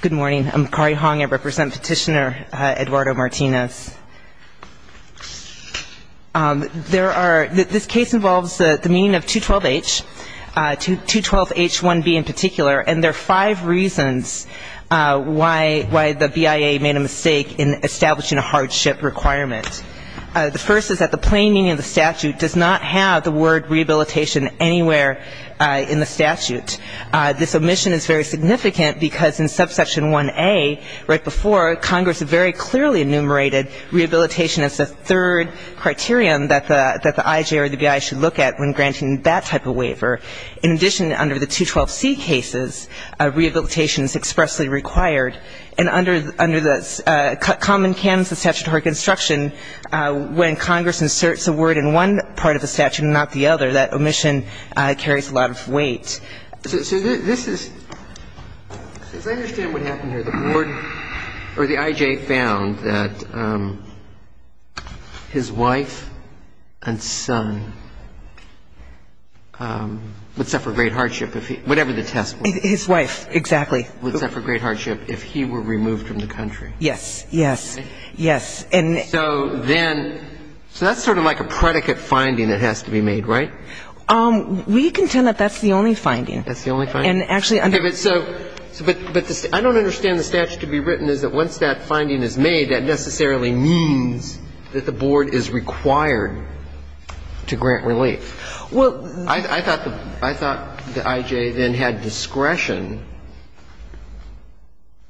Good morning. I'm Kari Hong. I represent Petitioner Eduardo Martinez. There are, this case involves the meaning of 212H, 212H1B in particular, and there are five reasons why the BIA made a mistake in establishing a hardship requirement. The first is that the plain meaning of the statute does not have the word rehabilitation anywhere in the statute. This omission is very significant because in subsection 1A, right before, Congress very clearly enumerated rehabilitation as the third criterion that the IJ or the BI should look at when granting that type of waiver. In addition, under the 212C cases, rehabilitation is expressly required. And under the common canons of statutory construction, when Congress inserts a word in one part of the statute, the word should not be used. The second is that the IJ or the IJ found that his wife and son would suffer great hardship if he, whatever the test was. His wife, exactly. Would suffer great hardship if he were removed from the country. Yes, yes, yes. And So then, so that's sort of like a predicate finding that has to be made, right? We contend that that's the only finding. That's the only finding? And actually under Okay, but so, but I don't understand the statute to be written is that once that finding is made, that necessarily means that the board is required to grant relief. Well, I thought the IJ then had discretion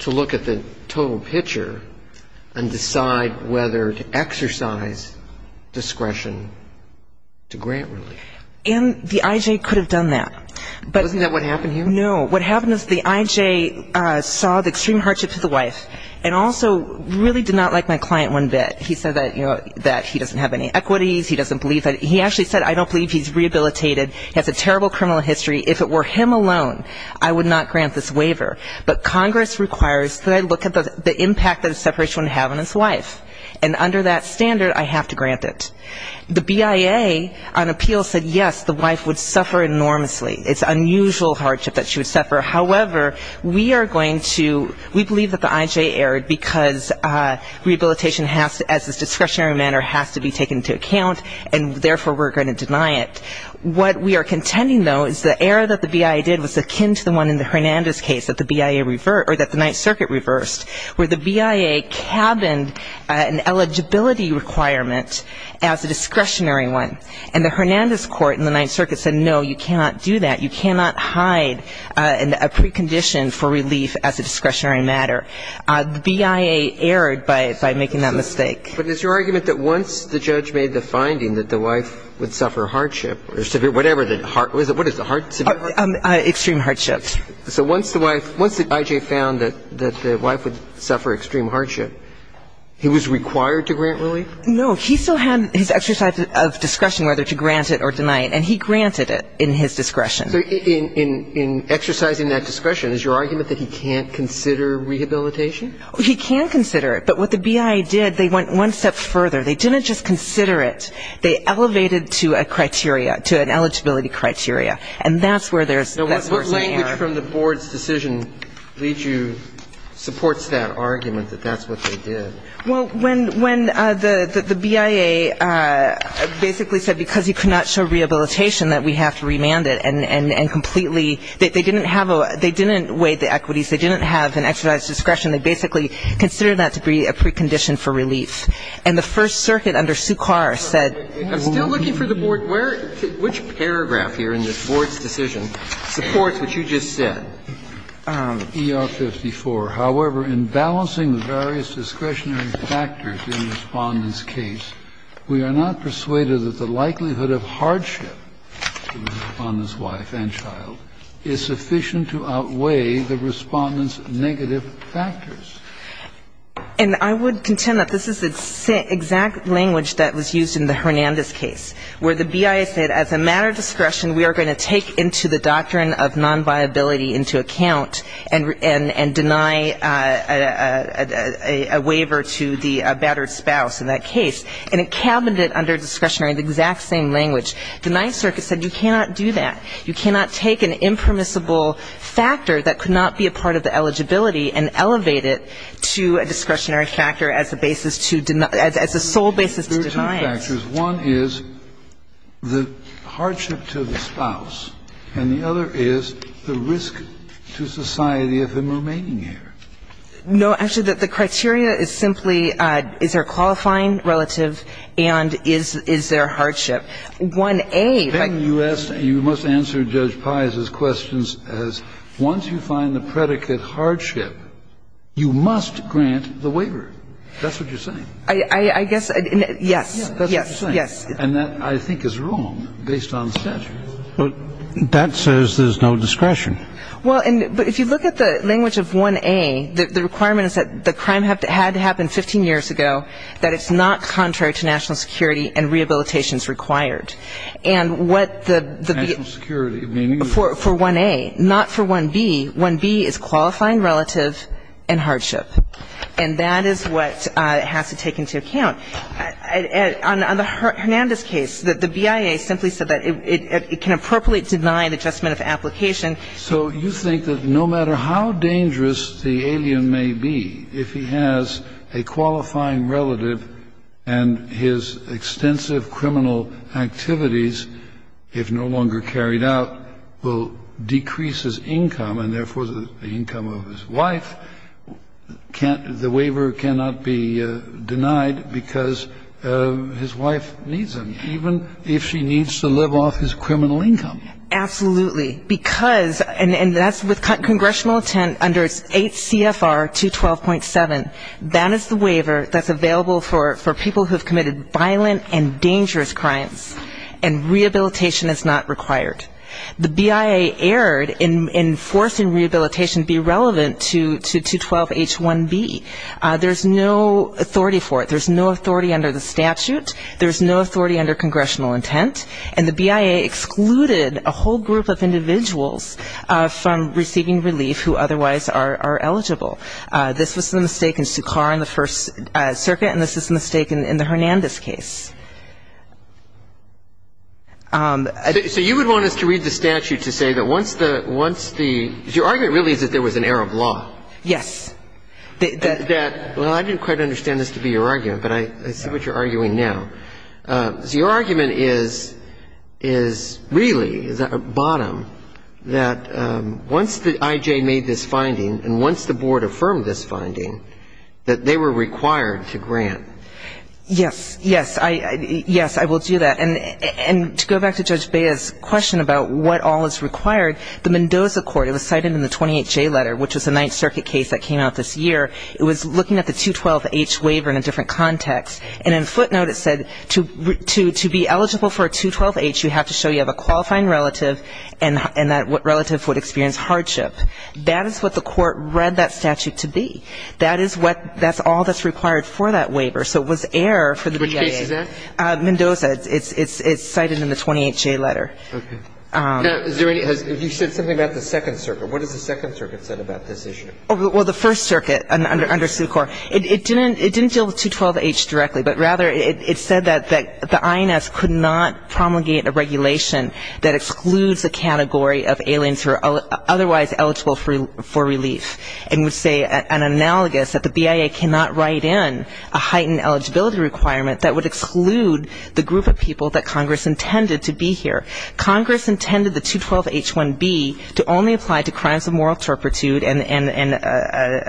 to look at the total picture and decide whether to exercise discretion to grant relief. And the IJ could have done that. Wasn't that what happened here? No. What happened is the IJ saw the extreme hardship to the wife and also really did not like my client one bit. He said that, you know, that he doesn't have any equities. He doesn't believe that. He actually said I don't believe he's rehabilitated. He has a terrible criminal history. If it were him alone, I would not grant this waiver. But Congress requires that I look at the impact that a separation would have on his wife. And under that standard, I have to grant it. The BIA on appeal said yes, the wife would suffer enormously. It's unusual hardship that she would suffer. However, we are going to, we believe that the IJ erred because rehabilitation has to, as a discretionary matter, has to be taken into account, and therefore we're going to deny it. What we are contending, though, is the error that the BIA did was akin to the one in the Hernandez case that the BIA reversed or that the Ninth Circuit reversed, where the BIA cabined an eligibility requirement as a discretionary one. And the Hernandez court in the Ninth Circuit said no, you cannot do that. You cannot hide a precondition for relief as a discretionary matter. The BIA erred by making that mistake. But it's your argument that once the judge made the finding that the wife would suffer hardship or severe, whatever, what is it, severe hardship? Extreme hardship. So once the wife, once the IJ found that the wife would suffer extreme hardship, he was required to grant relief? No. He still had his exercise of discretion whether to grant it or deny it, and he granted it in his discretion. So in exercising that discretion, is your argument that he can't consider rehabilitation? He can consider it. But what the BIA did, they went one step further. They didn't just consider it. They elevated to a criteria, to an eligibility criteria. And that's where there's that source of error. So what language from the board's decision leads you, supports that argument, that that's what they did? Well, when the BIA basically said because he could not show rehabilitation that we have to remand it and completely, they didn't have a, they didn't weigh the equities. They didn't have an exercise of discretion. They basically considered that to be a precondition for relief. And the First Circuit under Sukar said. I'm still looking for the board. Which paragraph here in this board's decision supports what you just said? ER-54. However, in balancing the various discretionary factors in the Respondent's case, we are not persuaded that the likelihood of hardship to the Respondent's wife and child is sufficient to outweigh the Respondent's negative factors. And I would contend that this is the exact language that was used in the Hernandez case, where the BIA said as a matter of discretion, we are going to take into the doctrine of nonviability into account and deny a waiver to the battered spouse in that case. And it cabined it under discretionary, the exact same language. The Ninth Circuit said you cannot do that. You cannot take an impermissible factor that could not be a part of the eligibility and elevate it to a discretionary factor as a basis to deny, as a sole basis to deny it. Kennedy, do you agree with that? And I have two questions. One is the hardship to the spouse, and the other is the risk to society of him remaining here. No, actually, the criteria is simply is there a qualifying relative and is there a hardship. 1a. Then you asked, you must answer Judge Pais's questions as, once you find the predicate hardship, you must grant the waiver. That's what you're saying. I guess. Yes. Yes. Yes. And that I think is wrong based on statute. But that says there's no discretion. Well, but if you look at the language of 1a, the requirement is that the crime had to happen 15 years ago, that it's not contrary to national security and rehabilitations required. And what the... National security, meaning... For 1a. Not for 1b. 1b is qualifying relative and hardship. And that is what has to take into account. On the Hernandez case, the BIA simply said that it can appropriately deny the adjustment of application. So you think that no matter how dangerous the alien may be, if he has a qualifying relative and his extensive criminal activities, if no longer carried out, will decrease his income, and therefore the income of his wife, the waiver cannot be denied because his wife needs him, even if she needs to live off his criminal income. Absolutely. Because, and that's with congressional intent under 8 CFR 212.7, that is the waiver that's available for people who have committed violent and dangerous crimes, and rehabilitation is not required. The BIA erred in forcing rehabilitation to be relevant to 212.H1b. There's no authority for it. There's no authority under the statute. There's no authority under congressional intent. And the BIA excluded a whole group of individuals from receiving relief who otherwise are eligible. This was a mistake in Sukkar in the First Circuit, and this is a mistake in the Hernandez case. So you would want us to read the statute to say that once the, once the, your argument really is that there was an error of law. Yes. That, well, I didn't quite understand this to be your argument, but I see what you're arguing now. Your argument is, is really, is at the bottom, that once the I.J. made this finding and once the Board affirmed this finding, that they were required to grant. Yes. Yes. Yes, I will do that. And to go back to Judge Bea's question about what all is required, the Mendoza court, it was cited in the 28J letter, which was the Ninth Circuit case that came out this year. It was looking at the 212.H waiver in a different context, and in footnote it said to be eligible for a 212.H, you have to show you have a qualifying relative and that relative would experience hardship. That is what the court read that statute to be. That is what, that's all that's required for that waiver. So it was error for the BIA. Which case is that? Mendoza. It's cited in the 28J letter. Okay. Now, is there any, you said something about the Second Circuit. What does the Second Circuit say about this issue? Well, the First Circuit under Suquare, it didn't deal with 212.H directly, but rather it said that the INS could not promulgate a regulation that excludes a category of aliens who are otherwise eligible for relief. And would say an analogous, that the BIA cannot write in a heightened eligibility requirement that would exclude the group of people that Congress intended to be here. Congress intended the 212.H1B to only apply to crimes of moral turpitude and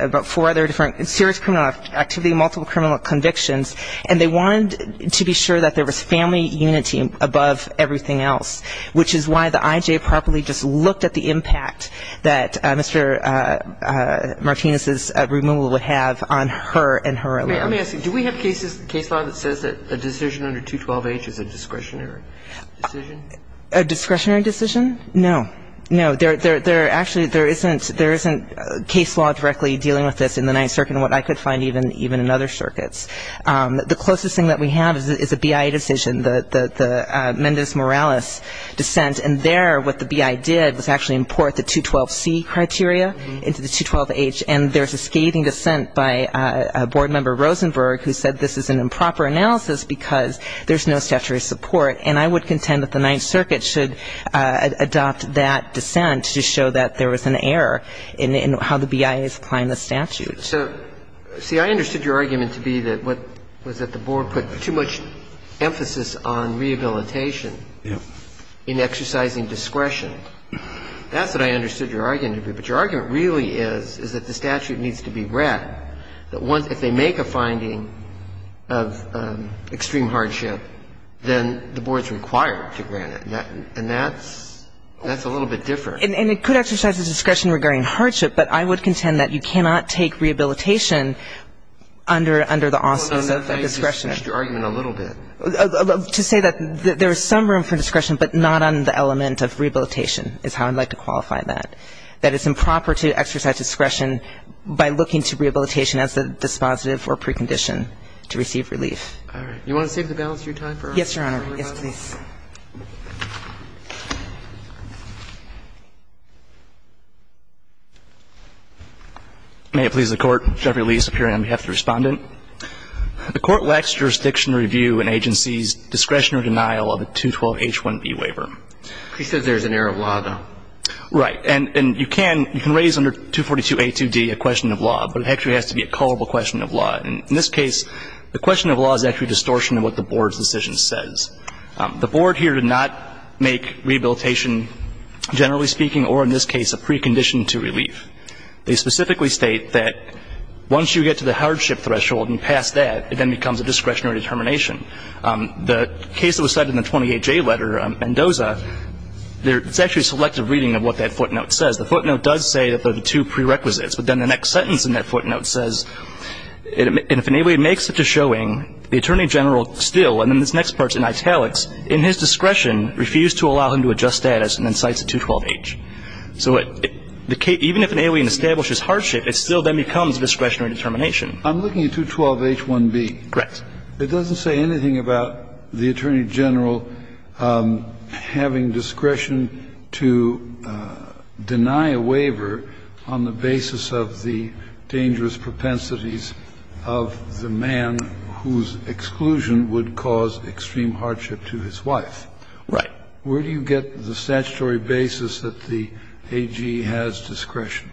about four other different serious criminal activity, multiple criminal convictions. And they wanted to be sure that there was family unity above everything else, which is why the Martinez's removal would have on her and her alias. Let me ask you, do we have cases, case law that says that a decision under 212.H is a discretionary decision? A discretionary decision? No. No. There actually isn't case law directly dealing with this in the Ninth Circuit and what I could find even in other circuits. The closest thing that we have is a BIA decision, the Mendez-Morales dissent. And there, what the BIA did was actually import the 212.C criteria into the 212.H. And there's a scathing dissent by Board Member Rosenberg who said this is an improper analysis because there's no statutory support. And I would contend that the Ninth Circuit should adopt that dissent to show that there was an error in how the BIA is applying the statute. So, see, I understood your argument to be that what was at the board put too much emphasis on rehabilitation in exercising discretion. That's what I understood your argument to be. But your argument really is, is that the statute needs to be read, that if they make a finding of extreme hardship, then the board's required to grant it. And that's a little bit different. And it could exercise the discretion regarding hardship, but I would contend that you cannot take rehabilitation under the auspices of discretion. And I understood your argument a little bit. To say that there is some room for discretion, but not on the element of rehabilitation is how I would like to qualify that. That it's improper to exercise discretion by looking to rehabilitation as a dispositive or precondition to receive relief. All right. Do you want to save the balance of your time for our early questions? Yes, Your Honor. Yes, please. May it please the Court. Jeffrey Lee, Superior, on behalf of the Respondent. The Court lacks jurisdiction to review an agency's discretion or denial of a 212H1B waiver. He says there's an error of law, though. Right. And you can raise under 242A2D a question of law, but it actually has to be a culpable question of law. And in this case, the question of law is actually a distortion of what the board's decision says. The board here did not make rehabilitation, generally speaking, or in this case, a precondition to relief. They specifically state that once you get to the hardship threshold and pass that, it then becomes a discretionary determination. The case that was cited in the 20HA letter, Mendoza, it's actually a selective reading of what that footnote says. The footnote does say that they're the two prerequisites, but then the next sentence in that footnote says, and if in any way it makes such a showing, the Attorney General still, and then this next part's in italics, in his discretion refused to allow him to adjust status and then cites a 212H. So even if an alien establishes hardship, it still then becomes a discretionary determination. I'm looking at 212H1B. Correct. It doesn't say anything about the Attorney General having discretion to deny a waiver on the basis of the dangerous propensities of the man whose exclusion would cause extreme hardship to his wife. Right. Where do you get the statutory basis that the AG has discretion?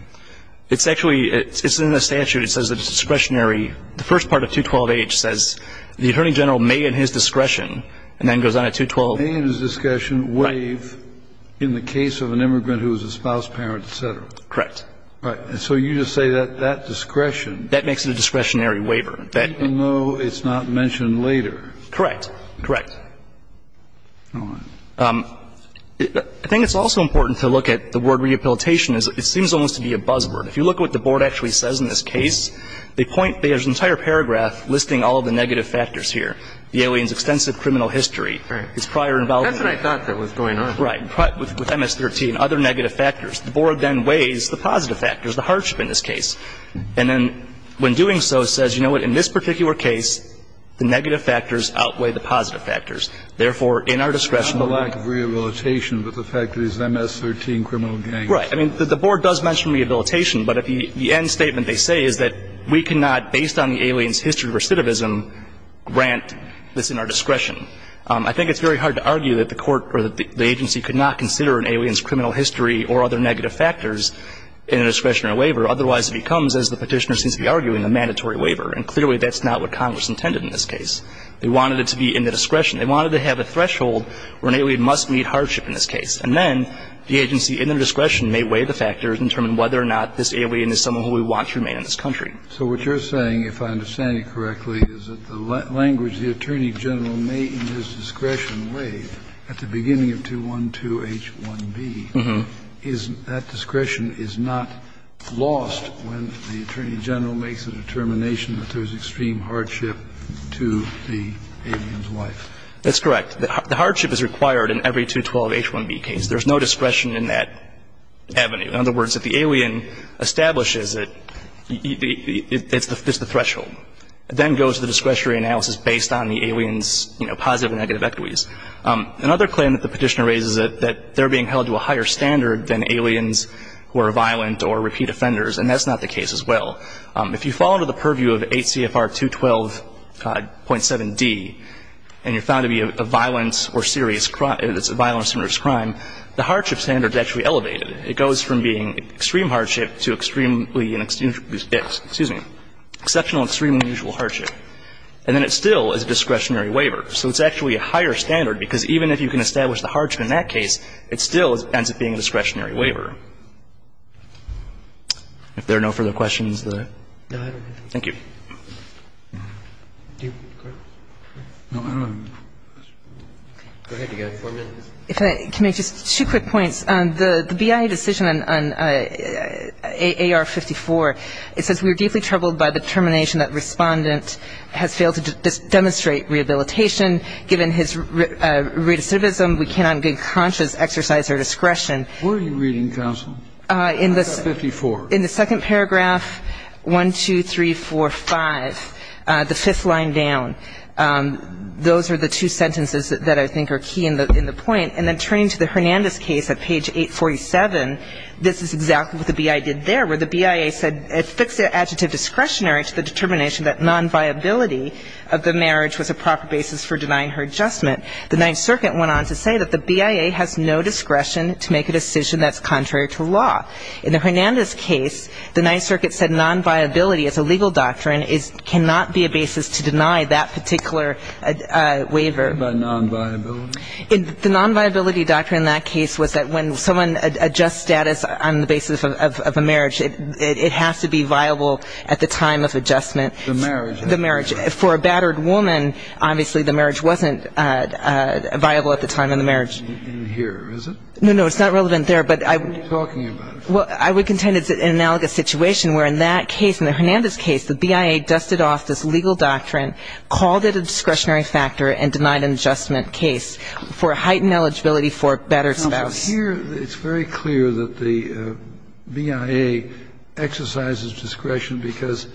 It's actually, it's in the statute. It says that it's discretionary. The first part of 212H says the Attorney General may in his discretion, and then goes on to 212H. May in his discretion waive in the case of an immigrant who is a spouse, parent, et cetera. Correct. Right. And so you just say that that discretion. That makes it a discretionary waiver. Even though it's not mentioned later. Correct. Correct. All right. I think it's also important to look at the word rehabilitation. It seems almost to be a buzzword. If you look at what the Board actually says in this case, they point, there's an entire paragraph listing all of the negative factors here. The alien's extensive criminal history. Right. His prior involvement. That's what I thought that was going on. Right. With MS-13, other negative factors. The Board then weighs the positive factors, the hardship in this case. And then when doing so says, you know what, in this particular case, the negative factors outweigh the positive factors. Therefore, in our discretion. It's not the lack of rehabilitation, but the fact that it's MS-13 criminal gain. Right. I mean, the Board does mention rehabilitation. But the end statement they say is that we cannot, based on the alien's history of recidivism, grant this in our discretion. I think it's very hard to argue that the Court or the agency could not consider an alien's criminal history or other negative factors in a discretionary waiver. Otherwise it becomes, as the Petitioner seems to be arguing, a mandatory waiver. And clearly that's not what Congress intended in this case. They wanted it to be in the discretion. They wanted to have a threshold where an alien must meet hardship in this case. And then the agency, in their discretion, may weigh the factors and determine whether or not this alien is someone who we want to remain in this country. Kennedy. So what you're saying, if I understand it correctly, is that the language the Attorney General made in his discretion waived at the beginning of 212H1B is that discretion is not lost when the Attorney General makes a determination that there is extreme hardship to the alien's life? That's correct. The hardship is required in every 212H1B case. There's no discretion in that avenue. In other words, if the alien establishes it, it's the threshold. It then goes to the discretionary analysis based on the alien's, you know, positive and negative equities. Another claim that the Petitioner raises is that they're being held to a higher standard than aliens who are violent or repeat offenders. And that's not the case as well. If you fall under the purview of 8 CFR 212.7d and you're found to be a violent or serious crime, it's a violent or serious crime, the hardship standard is actually elevated. It goes from being extreme hardship to extremely, excuse me, exceptional, extremely unusual hardship. And then it still is a discretionary waiver. So it's actually a higher standard because even if you can establish the hardship in that case, it still ends up being a discretionary waiver. If there are no further questions. Thank you. Go ahead, you've got four minutes. If I can make just two quick points. The BIA decision on AR-54, it says we are deeply troubled by the determination that Respondent has failed to demonstrate rehabilitation. Given his recidivism, we cannot in good conscience exercise our discretion. Where are you reading, counsel? I've got 54. In the second paragraph, 1, 2, 3, 4, 5, the fifth line down. Those are the two sentences that I think are key in the point. And then turning to the Hernandez case at page 847, this is exactly what the BIA did there, where the BIA said it affixed the adjective discretionary to the determination that nonviability of the marriage was a proper basis for denying her adjustment. The Ninth Circuit went on to say that the BIA has no discretion to make a decision that's contrary to law. In the Hernandez case, the Ninth Circuit said nonviability as a legal doctrine cannot be a basis to deny that particular waiver. What about nonviability? The nonviability doctrine in that case was that when someone adjusts status on the basis of a marriage, it has to be viable at the time of adjustment. The marriage. The marriage. For a battered woman, obviously the marriage wasn't viable at the time of the marriage. In here, is it? No, no. It's not relevant there, but I would. We're talking about it. Well, I would contend it's an analogous situation where in that case, in the Hernandez case, the BIA dusted off this legal doctrine, called it a discretionary factor and denied an adjustment case for heightened eligibility for a battered spouse. Counsel, here it's very clear that the BIA exercises discretion because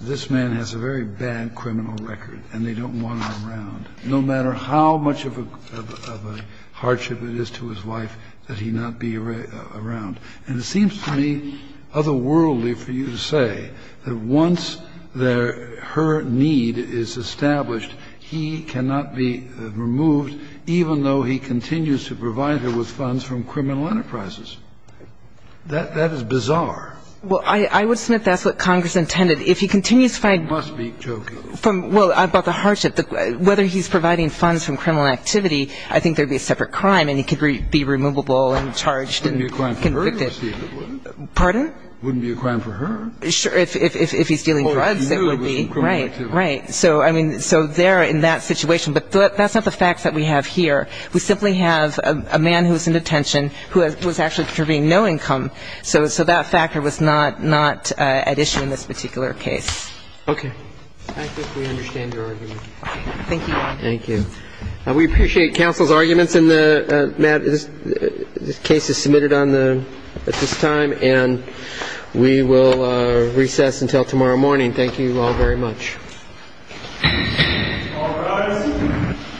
this man has a very bad criminal record and they don't want him around. No matter how much of a hardship it is to his life that he not be around. And it seems to me otherworldly for you to say that once her need is established, he cannot be removed even though he continues to provide her with funds from criminal enterprises. That is bizarre. Well, I would submit that's what Congress intended. You must be joking. Well, about the hardship. Whether he's providing funds from criminal activity, I think there would be a separate crime and he could be removable and charged and convicted. It wouldn't be a crime for her to steal it, would it? Pardon? It wouldn't be a crime for her? Sure. If he's stealing drugs, it would be. Well, if he knew it was from criminal activity. Right. Right. So, I mean, so there in that situation. But that's not the facts that we have here. We simply have a man who was in detention who was actually contributing no income. So that factor was not at issue in this particular case. Okay. I think we understand your argument. Thank you, Your Honor. Thank you. We appreciate counsel's arguments in the matter. This case is submitted at this time, and we will recess until tomorrow morning. Thank you all very much. All rise.